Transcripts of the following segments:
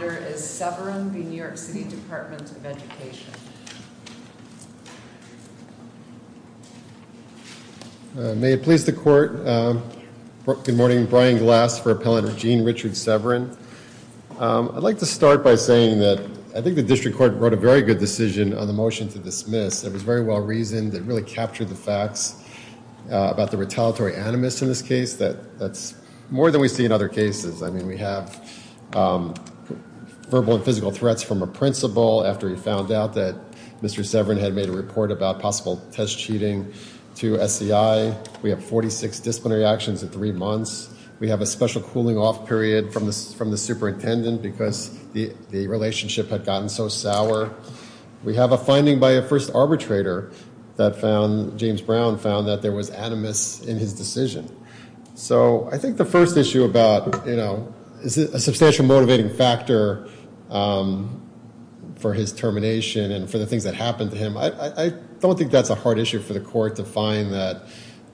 May it please the court. Good morning. Brian Glass for Appellant Eugene Richard Severin. I'd like to start by saying that I think the district court wrote a very good decision on the motion to dismiss. It was very well reasoned. It really captured the facts about the retaliatory animus in this case. That's more than we see in other cases. I mean we have verbal and physical threats from a principal after he found out that Mr. Severin had made a report about possible test cheating to SCI. We have 46 disciplinary actions in three months. We have a special cooling off period from the superintendent because the relationship had gotten so sour. We have a finding by a first arbitrator that found, James Brown found, that there was animus in his decision. So I think the first issue about, you know, is it a substantial motivating factor for his termination and for the things that happened to him. I don't think that's a hard issue for the court to find that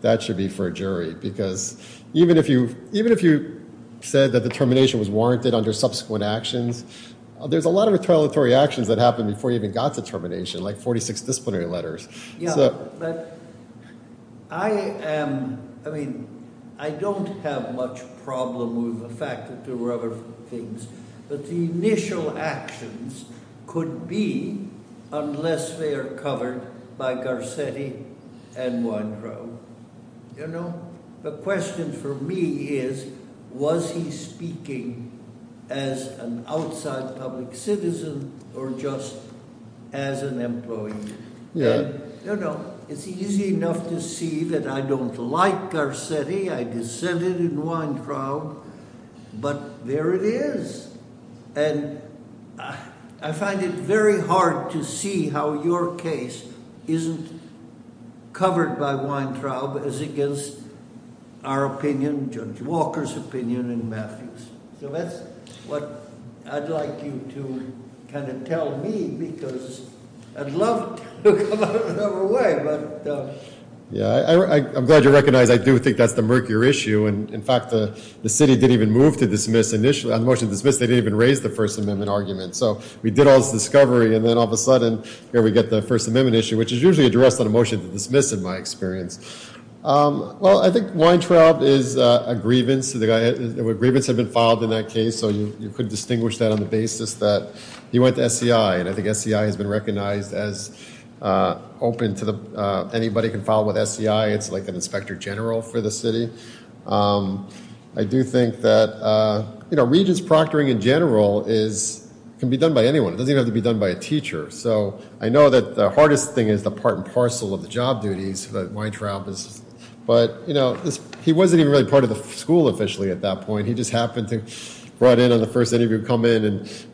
that should be for a jury because even if you said that the termination was warranted under subsequent actions, there's a lot of retaliatory actions that happened before he even got to termination, like 46 disciplinary letters. Yeah, but I am, I mean, I don't have much problem with the fact that there were other things, but the initial actions could be unless they are covered by Garcetti and Weintraub, you know. The question for me is, was he speaking as an outside public citizen or just as an employee? Yeah. Yeah, I'm glad you recognize I do think that's the murkier issue. And in fact, the city didn't even move to dismiss initially on the motion to dismiss. They didn't even raise the First Amendment argument. So we did all this discovery and then all of a sudden here we get the First Amendment issue, which is usually addressed on a motion to dismiss, in my experience. Well, I think Weintraub is a grievance. The grievance had been filed in that case. So you could distinguish that on the basis that he went to SCI. And I think SCI has been recognized as open to anybody can file with SCI. It's like an inspector general for the city. I do think that, you know, regents proctoring in general is, can be done by anyone. It doesn't even have to be done by a teacher. So I know that the hardest thing is the part and parcel of the job duties that Weintraub is, but, you know, he wasn't even really part of the school officially at that point. He just happened to brought in on the first interview, come in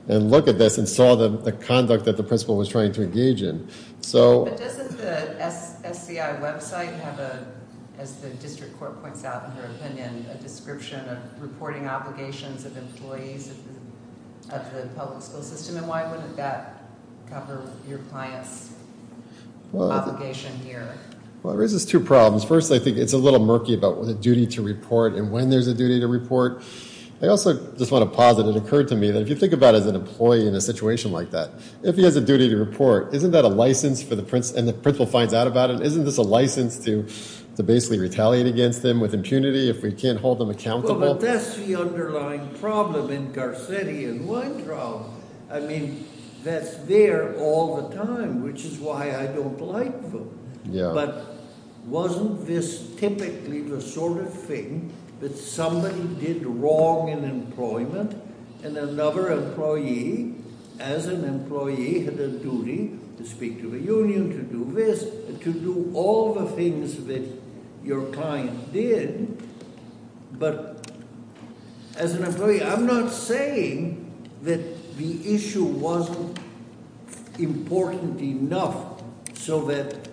and look at this and saw the conduct that the principal was trying to engage in. But doesn't the SCI website have a, as the district court points out in her opinion, a description of reporting obligations of employees of the public school system? And why wouldn't that cover your client's obligation here? Well, it raises two problems. First, I think it's a little murky about what the duty to report and when there's a duty to report. I also just want to posit it occurred to me that if you think about as an employee in a situation like that, if he has a duty to report, isn't that a license for the prince and the principal finds out about it? Isn't this a license to basically retaliate against them with impunity if we can't hold them accountable? Well, that's the underlying problem in Garcetti and Weintraub. I mean, that's there all the time, which is why I don't like them. But wasn't this typically the sort of thing that somebody did wrong in employment and another employee, as an employee, had a duty to speak to the union, to do this, to do all the things that your client did. But as an employee, I'm not saying that the issue wasn't important enough so that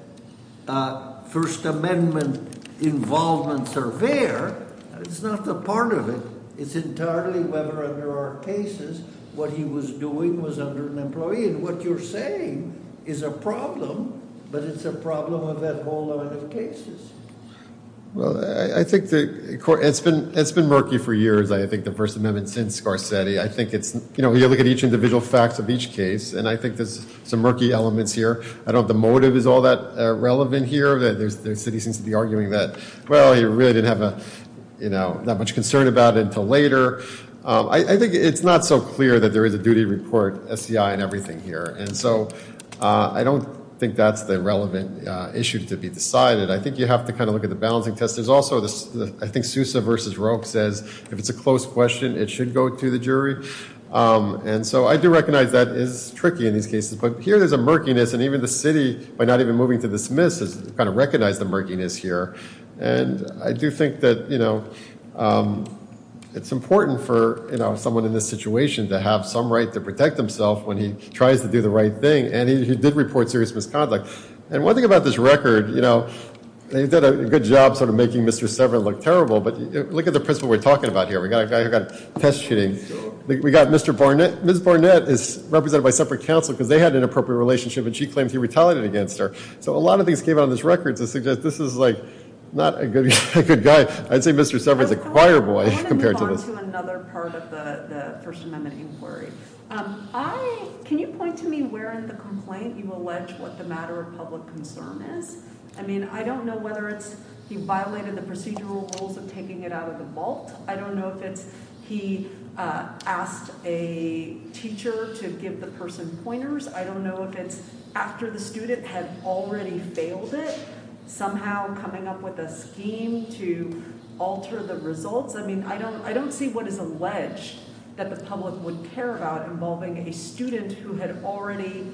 First Amendment involvements are there. It's not a part of it. It's entirely whether under our cases, what he was doing was under an employee. And what you're saying is a problem, but it's a problem of that whole line of cases. Well, I think it's been murky for years, I think, the First Amendment since Garcetti. You look at each individual facts of each case, and I think there's some murky elements here. I don't know if the motive is all that relevant here. The city seems to be arguing that, well, he really didn't have that much concern about it until later. I think it's not so clear that there is a duty to report SCI and everything here. And so I don't think that's the relevant issue to be decided. I think you have to kind of look at the balancing test. There's also, I think, Sousa v. Roke says, if it's a close question, it should go to the jury. And so I do recognize that is tricky in these cases. But here there's a murkiness, and even the city, by not even moving to dismiss, has kind of recognized the murkiness here. And I do think that it's important for someone in this situation to have some right to protect himself when he tries to do the right thing. And he did report serious misconduct. And one thing about this record, you know, they did a good job sort of making Mr. Severin look terrible. But look at the principal we're talking about here. We got a guy who got test shooting. We got Mr. Barnett. Ms. Barnett is represented by separate counsel because they had an inappropriate relationship, and she claims he retaliated against her. So a lot of things came out of this record to suggest this is like not a good guy. I'd say Mr. Severin is a choir boy compared to this. I mean, I don't see what is alleged that the public would care about involving a student who had already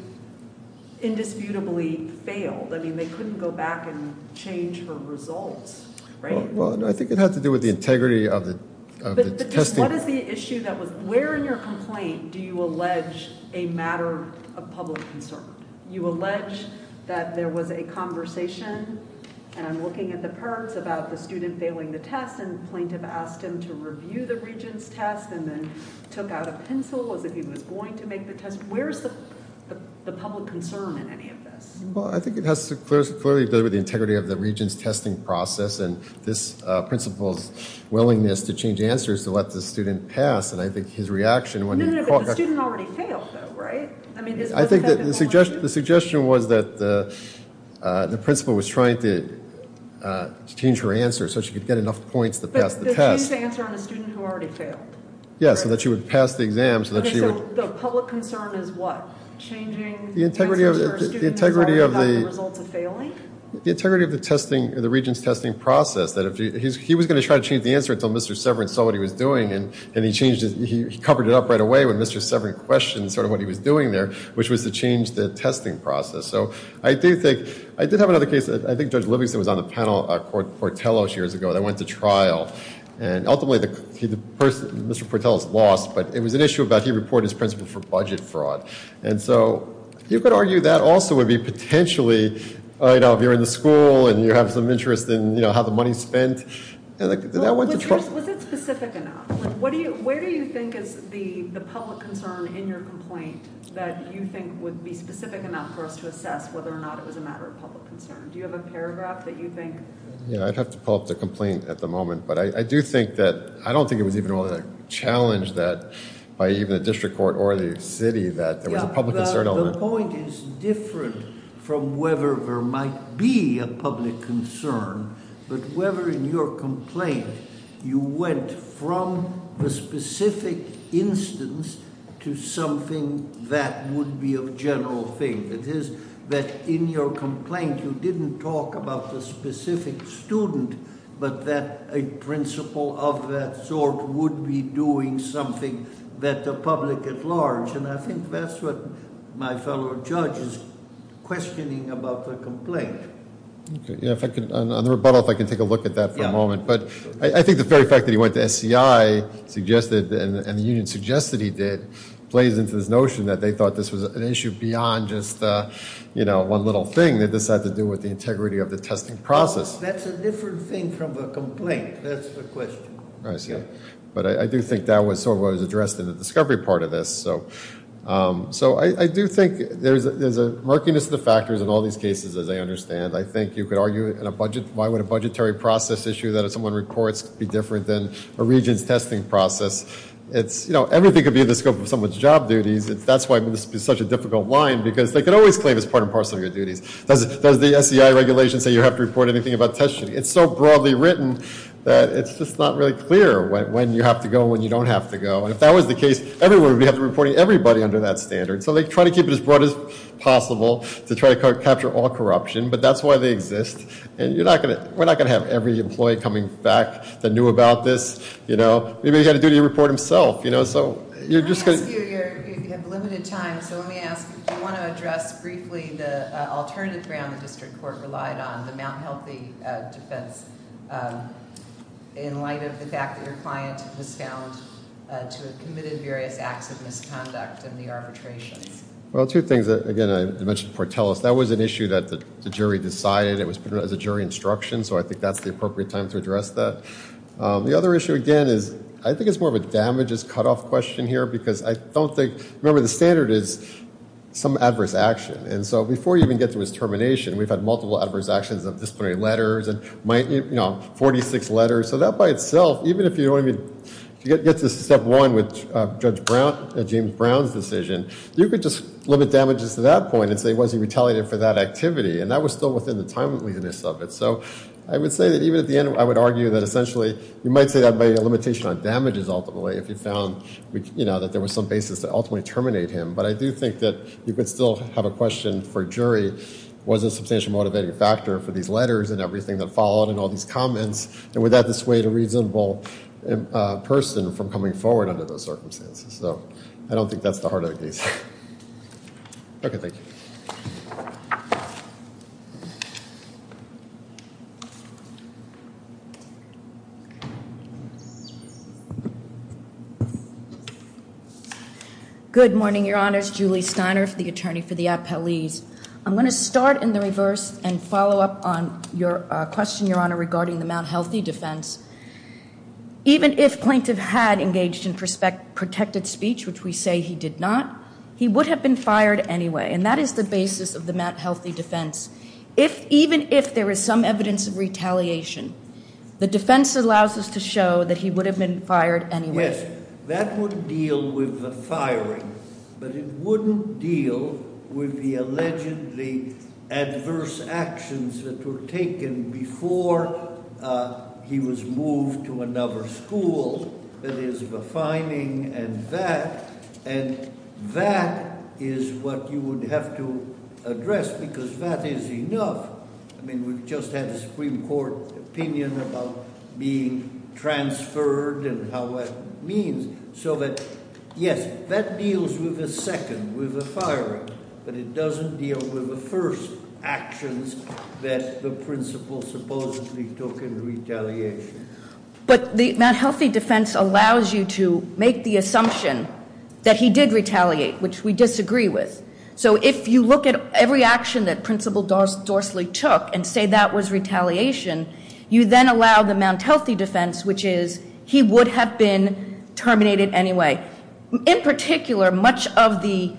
indisputably failed. I mean, they couldn't go back and change her results, right? Well, I think it has to do with the integrity of the testing. I think it has to do with the integrity of the principal's willingness to change answers to let the student pass. And I think his reaction when he caught... No, no, no, but the student already failed though, right? I mean, is what the fact of the matter? I think that the suggestion was that the principal was trying to change her answer so she could get enough points to pass the test. But to change the answer on a student who already failed? Yeah, so that she would pass the exam so that she would... Okay, so the public concern is what? Changing answers for a student who's already got the results of failing? The integrity of the testing, the regent's testing process, that he was going to try to change the answer until Mr. Severin saw what he was doing and he changed it. He covered it up right away when Mr. Severin questioned sort of what he was doing there, which was to change the testing process. So I do think, I did have another case, I think Judge Livingston was on the panel, Portello years ago, that went to trial. And ultimately, Mr. Portello's lost, but it was an issue about he reported his principal for budget fraud. And so you could argue that also would be potentially, you know, if you're in the school and you have some interest in, you know, how the money's spent. Was it specific enough? Where do you think is the public concern in your complaint that you think would be specific enough for us to assess whether or not it was a matter of public concern? Do you have a paragraph that you think? Yeah, I'd have to pull up the complaint at the moment. But I do think that, I don't think it was even really a challenge that by even the district court or the city that there was a public concern on it. The point is different from whether there might be a public concern, but whether in your complaint you went from the specific instance to something that would be a general thing. It is that in your complaint, you didn't talk about the specific student, but that a principal of that sort would be doing something that the public at large. And I think that's what my fellow judge is questioning about the complaint. Okay. On the rebuttal, if I can take a look at that for a moment. But I think the very fact that he went to SCI and the union suggested he did plays into this notion that they thought this was an issue beyond just one little thing. That this had to do with the integrity of the testing process. That's a different thing from a complaint. That's the question. I see. But I do think that was sort of what was addressed in the discovery part of this. So I do think there's a murkiness of the factors in all these cases, as I understand. I think you could argue in a budget, why would a budgetary process issue that someone reports be different than a region's testing process? It's, you know, everything could be in the scope of someone's job duties. That's why this is such a difficult line, because they could always claim it's part and parcel of your duties. Does the SCI regulation say you have to report anything about testing? It's so broadly written that it's just not really clear when you have to go and when you don't have to go. And if that was the case, everyone would be reporting everybody under that standard. So they try to keep it as broad as possible to try to capture all corruption. But that's why they exist. And we're not going to have every employee coming back that knew about this. Maybe he had a duty to report himself. So you're just going to- I'm going to ask you. You have limited time. So let me ask, do you want to address briefly the alternative ground the district court relied on, the Mount Healthy defense, in light of the fact that your client was found to have committed various acts of misconduct in the arbitrations? Well, two things. Again, I mentioned Portelis. That was an issue that the jury decided. It was put as a jury instruction. So I think that's the appropriate time to address that. The other issue, again, is I think it's more of a damages cutoff question here, because I don't think- Remember, the standard is some adverse action. And so before you even get to his termination, we've had multiple adverse actions of disciplinary letters and 46 letters. So that by itself, even if you get to step one with Judge James Brown's decision, you could just limit damages to that point and say, was he retaliated for that activity? And that was still within the timeliness of it. So I would say that even at the end, I would argue that essentially you might say that by a limitation on damages ultimately, if you found that there was some basis to ultimately terminate him. But I do think that you could still have a question for jury, was a substantial motivating factor for these letters and everything that followed and all these comments? And would that dissuade a reasonable person from coming forward under those circumstances? So I don't think that's the heart of the case. Okay, thank you. Good morning, Your Honors. Julie Steiner, the attorney for the appellees. I'm going to start in the reverse and follow up on your question, Your Honor, regarding the Mount Healthy defense. Even if plaintiff had engaged in protected speech, which we say he did not, he would have been fired anyway. And that is the basis of the Mount Healthy defense. Even if there is some evidence of retaliation, the defense allows us to show that he would have been fired anyway. Yes, that would deal with the firing. But it wouldn't deal with the allegedly adverse actions that were taken before he was moved to another school. That is, the fining and that. And that is what you would have to address, because that is enough. I mean, we've just had the Supreme Court opinion about being transferred and how that means. So that, yes, that deals with the second, with the firing. But it doesn't deal with the first actions that the principal supposedly took in retaliation. But the Mount Healthy defense allows you to make the assumption that he did retaliate, which we disagree with. So if you look at every action that Principal Dorsley took and say that was retaliation, you then allow the Mount Healthy defense, which is he would have been terminated anyway. In particular, much of the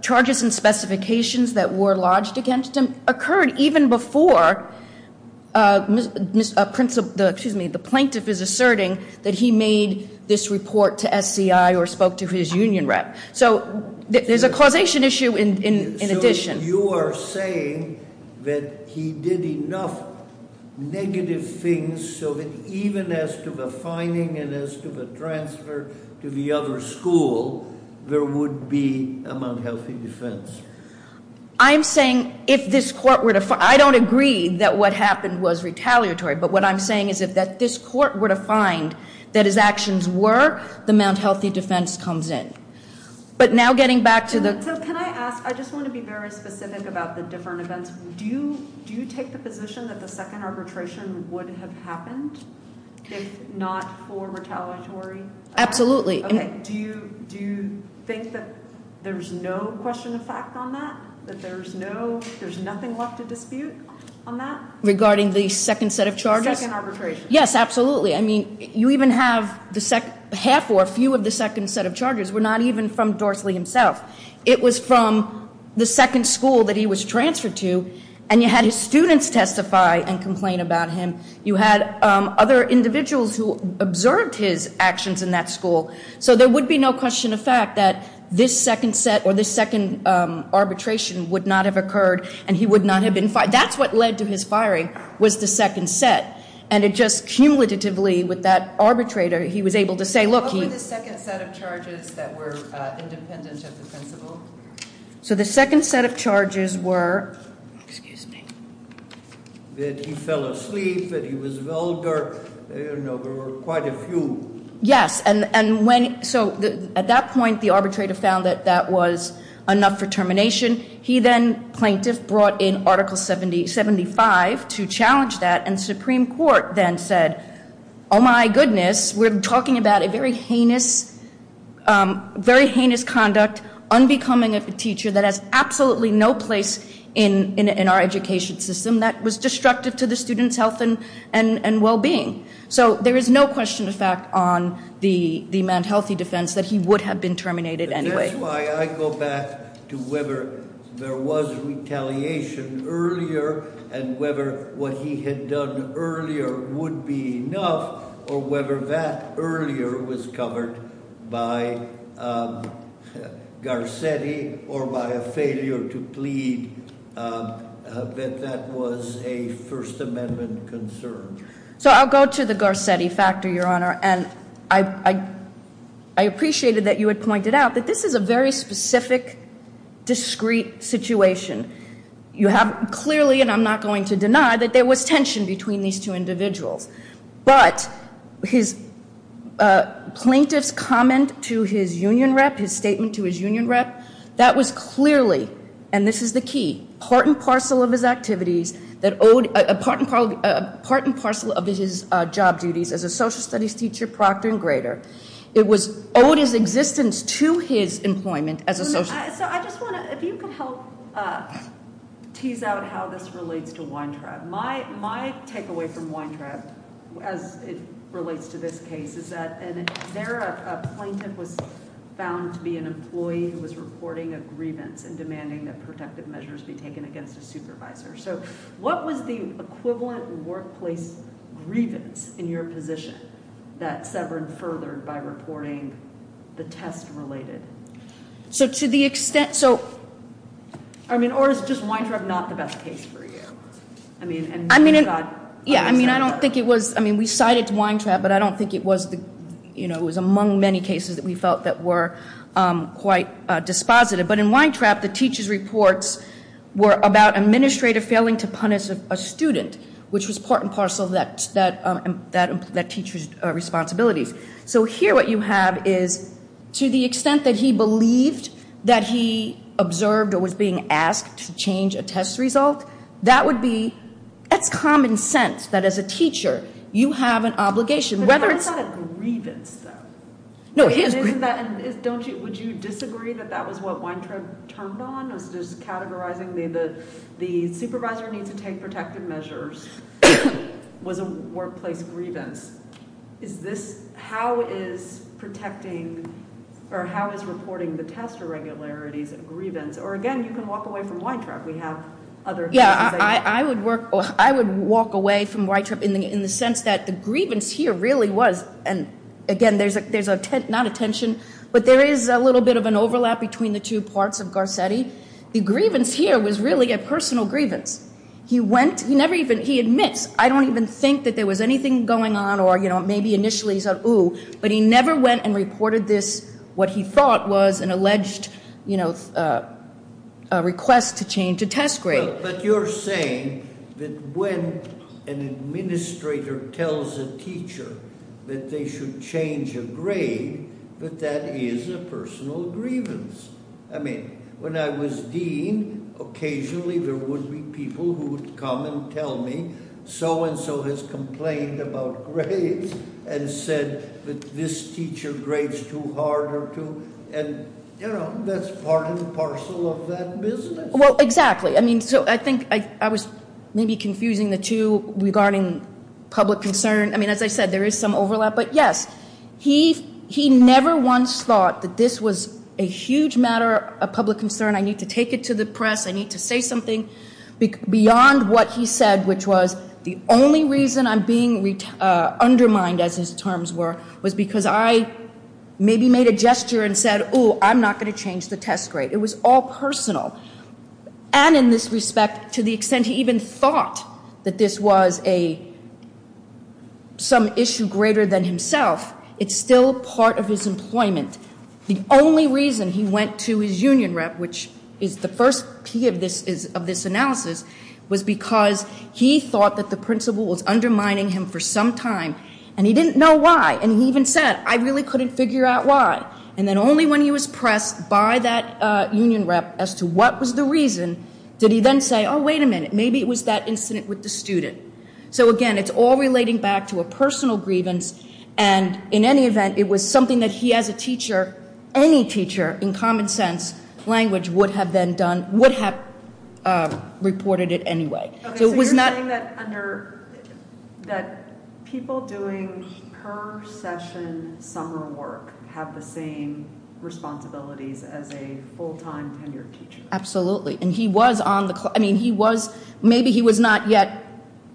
charges and specifications that were lodged against him occurred even before the plaintiff is asserting that he made this report to SCI or spoke to his union rep. So there's a causation issue in addition. You are saying that he did enough negative things so that even as to the fining and as to the transfer to the other school, there would be a Mount Healthy defense. I'm saying if this court were to, I don't agree that what happened was retaliatory. But what I'm saying is that if this court were to find that his actions were, the Mount Healthy defense comes in. But now getting back to the- And so can I ask, I just want to be very specific about the different events. Do you take the position that the second arbitration would have happened if not for retaliatory? Absolutely. Do you think that there's no question of fact on that? That there's nothing left to dispute on that? Regarding the second set of charges? Second arbitration. Yes, absolutely. I mean, you even have half or a few of the second set of charges were not even from Dorsley himself. It was from the second school that he was transferred to. And you had his students testify and complain about him. You had other individuals who observed his actions in that school. So there would be no question of fact that this second set or this second arbitration would not have occurred. And he would not have been fined. That's what led to his firing was the second set. And it just cumulatively with that arbitrator, he was able to say, look- What were the second set of charges that were independent of the principal? So the second set of charges were- Excuse me. That he fell asleep, that he was vulgar. There were quite a few. Yes. And when- So at that point, the arbitrator found that that was enough for termination. He then, plaintiff, brought in Article 75 to challenge that. And the Supreme Court then said, oh my goodness, we're talking about a very heinous conduct, unbecoming of a teacher that has absolutely no place in our education system, that was destructive to the student's health and well-being. So there is no question of fact on the manned healthy defense that he would have been terminated anyway. That's why I go back to whether there was retaliation earlier, and whether what he had done earlier would be enough, or whether that earlier was covered by Garcetti, or by a failure to plead that that was a First Amendment concern. So I'll go to the Garcetti factor, Your Honor. And I appreciated that you had pointed out that this is a very specific, discreet situation. You have clearly, and I'm not going to deny, that there was tension between these two individuals. But his plaintiff's comment to his union rep, his statement to his union rep, that was clearly, and this is the key, part and parcel of his activities, part and parcel of his job duties as a social studies teacher, proctor, and grader. It was owed his existence to his employment as a social studies teacher. So I just want to, if you could help tease out how this relates to Weintraub. My takeaway from Weintraub, as it relates to this case, is that there a plaintiff was found to be an employee who was reporting a grievance and demanding that protective measures be taken against a supervisor. So what was the equivalent workplace grievance in your position that severed, furthered by reporting the test-related? So to the extent, so. I mean, or is just Weintraub not the best case for you? I mean. Yeah, I mean, I don't think it was. I mean, we cited Weintraub, but I don't think it was, you know, it was among many cases that we felt that were quite dispositive. But in Weintraub, the teacher's reports were about an administrator failing to punish a student, which was part and parcel of that teacher's responsibilities. So here what you have is to the extent that he believed that he observed or was being asked to change a test result, that would be, that's common sense that as a teacher you have an obligation. But that's not a grievance, though. No, it is. Would you disagree that that was what Weintraub turned on, was just categorizing the supervisor needs to take protective measures was a workplace grievance? Is this how is protecting or how is reporting the test irregularities a grievance? Or, again, you can walk away from Weintraub. We have other cases. Yeah, I would walk away from Weintraub in the sense that the grievance here really was, and, again, there's not a tension, but there is a little bit of an overlap between the two parts of Garcetti. The grievance here was really a personal grievance. He went, he never even, he admits, I don't even think that there was anything going on or, you know, maybe initially he said, ooh, but he never went and reported this, what he thought was an alleged, you know, request to change a test grade. But you're saying that when an administrator tells a teacher that they should change a grade, that that is a personal grievance. I mean, when I was dean, occasionally there would be people who would come and tell me, so-and-so has complained about grades and said that this teacher grades too hard or too, and, you know, that's part and parcel of that business. Well, exactly. I mean, so I think I was maybe confusing the two regarding public concern. I mean, as I said, there is some overlap. But, yes, he never once thought that this was a huge matter of public concern, I need to take it to the press, I need to say something beyond what he said, which was the only reason I'm being undermined, as his terms were, was because I maybe made a gesture and said, ooh, I'm not going to change the test grade. It was all personal. And in this respect, to the extent he even thought that this was some issue greater than himself, it's still part of his employment. The only reason he went to his union rep, which is the first P of this analysis, was because he thought that the principal was undermining him for some time, and he didn't know why. And he even said, I really couldn't figure out why. And then only when he was pressed by that union rep as to what was the reason, did he then say, oh, wait a minute, maybe it was that incident with the student. So, again, it's all relating back to a personal grievance. And in any event, it was something that he as a teacher, any teacher, in common sense language, would have then done, would have reported it anyway. So you're saying that people doing per-session summer work have the same responsibilities as a full-time tenured teacher. Absolutely. And he was on the, I mean, he was, maybe he was not yet,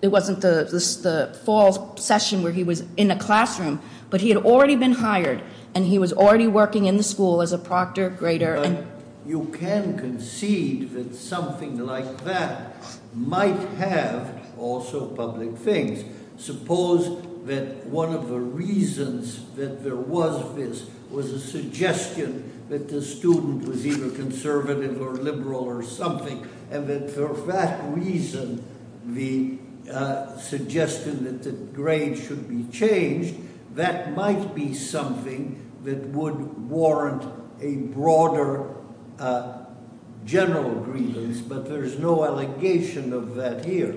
it wasn't the fall session where he was in a classroom, but he had already been hired, and he was already working in the school as a proctor, grader. You can concede that something like that might have also public things. Suppose that one of the reasons that there was this was a suggestion that the student was either conservative or liberal or something, and that for that reason, the suggestion that the grade should be changed, that might be something that would warrant a broader general grievance, but there's no allegation of that here.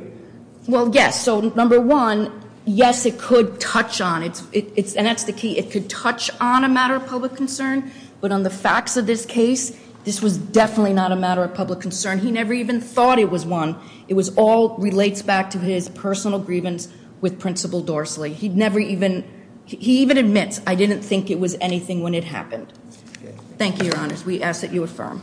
Well, yes. So, number one, yes, it could touch on, and that's the key, it could touch on a matter of public concern, but on the facts of this case, this was definitely not a matter of public concern. He never even thought it was one. It was all, relates back to his personal grievance with Principal Dorsley. He never even, he even admits, I didn't think it was anything when it happened. Thank you, Your Honors. We ask that you affirm.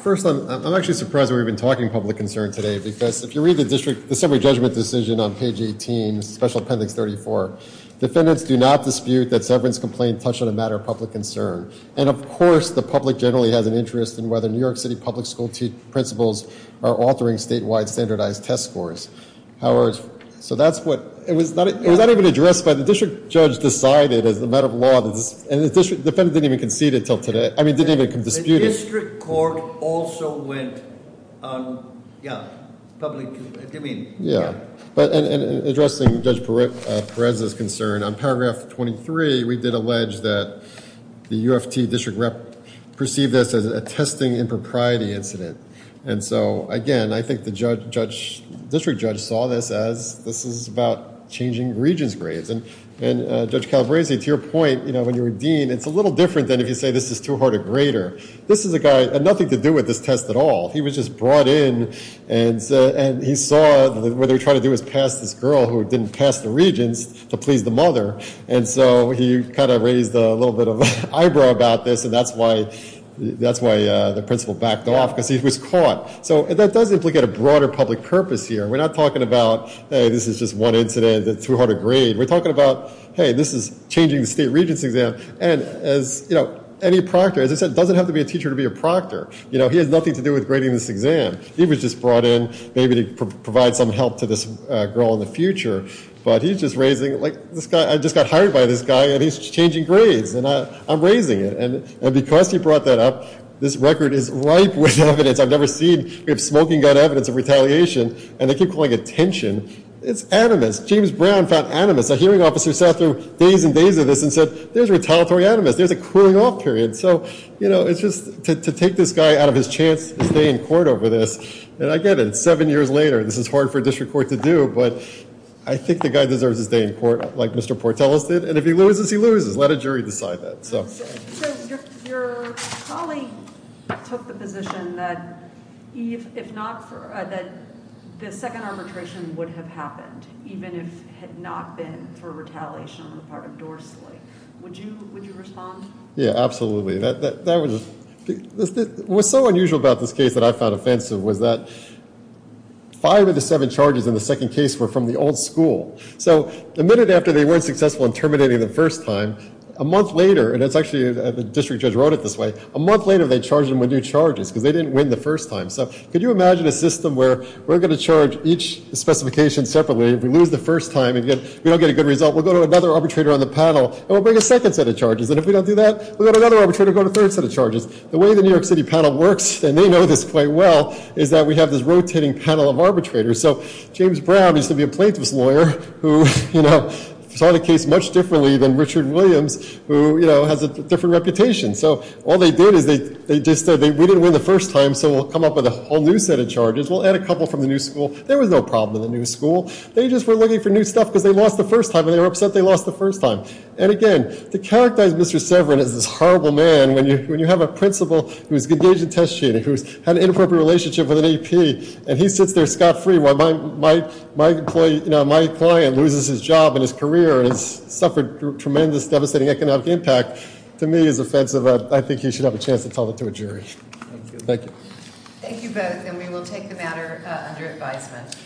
First, I'm actually surprised that we've been talking public concern today, because if you read the district, the summary judgment decision on page 18, Special Appendix 34, defendants do not dispute that Severance's complaint touched on a matter of public concern, and of course, the public generally has an interest in whether New York City public school principals are altering statewide standardized test scores. However, so that's what, it was not even addressed by the district judge decided as a matter of law, and the defendant didn't even concede it until today, I mean, didn't even dispute it. The district court also went on, yeah, public, I mean, yeah. Addressing Judge Perez's concern, on paragraph 23, we did allege that the UFT district rep perceived this as a testing impropriety incident, and so, again, I think the district judge saw this as this is about changing regents' grades, and Judge Calabresi, to your point, you know, when you were dean, it's a little different than if you say this is too hard a grader. This is a guy, had nothing to do with this test at all. He was just brought in, and he saw what they were trying to do was pass this girl who didn't pass the regents to please the mother, and so he kind of raised a little bit of an eyebrow about this, and that's why the principal backed off because he was caught. So that does implicate a broader public purpose here. We're not talking about, hey, this is just one incident, it's too hard a grade. We're talking about, hey, this is changing the state regents' exam, and as, you know, any proctor, as I said, doesn't have to be a teacher to be a proctor. You know, he has nothing to do with grading this exam. He was just brought in maybe to provide some help to this girl in the future, but he's just raising, like, this guy, I just got hired by this guy, and he's changing grades, and I'm raising it, and because he brought that up, this record is ripe with evidence. I've never seen, we have smoking gun evidence of retaliation, and they keep calling it tension. It's animus. James Brown found animus. A hearing officer sat through days and days of this and said, there's retaliatory animus. There's a cooling off period. So, you know, it's just to take this guy out of his chance to stay in court over this, and I get it. It's seven years later. This is hard for a district court to do, but I think the guy deserves to stay in court like Mr. Portelis did, and if he loses, he loses. Let a jury decide that, so. Your colleague took the position that if not for, that the second arbitration would have happened, even if it had not been for retaliation on the part of Dorsley. Would you respond? Yeah, absolutely. What's so unusual about this case that I found offensive was that five of the seven charges in the second case were from the old school. So the minute after they weren't successful in terminating the first time, a month later, and it's actually the district judge wrote it this way, a month later they charged him with new charges because they didn't win the first time. So could you imagine a system where we're going to charge each specification separately. If we lose the first time, we don't get a good result. We'll go to another arbitrator on the panel, and we'll bring a second set of charges, and if we don't do that, we'll have another arbitrator go to a third set of charges. The way the New York City panel works, and they know this quite well, is that we have this rotating panel of arbitrators. So James Brown used to be a plaintiff's lawyer who saw the case much differently than Richard Williams, who has a different reputation. So all they did is they just said we didn't win the first time, so we'll come up with a whole new set of charges. We'll add a couple from the new school. There was no problem in the new school. They just were looking for new stuff because they lost the first time, and they were upset they lost the first time. And again, to characterize Mr. Severin as this horrible man, when you have a principal who's engaged in test cheating, who's had an inappropriate relationship with an AP, and he sits there scot-free while my client loses his job and his career and has suffered tremendous, devastating economic impact, to me is offensive. I think he should have a chance to tell that to a jury. Thank you. Thank you both, and we will take the matter under advisement.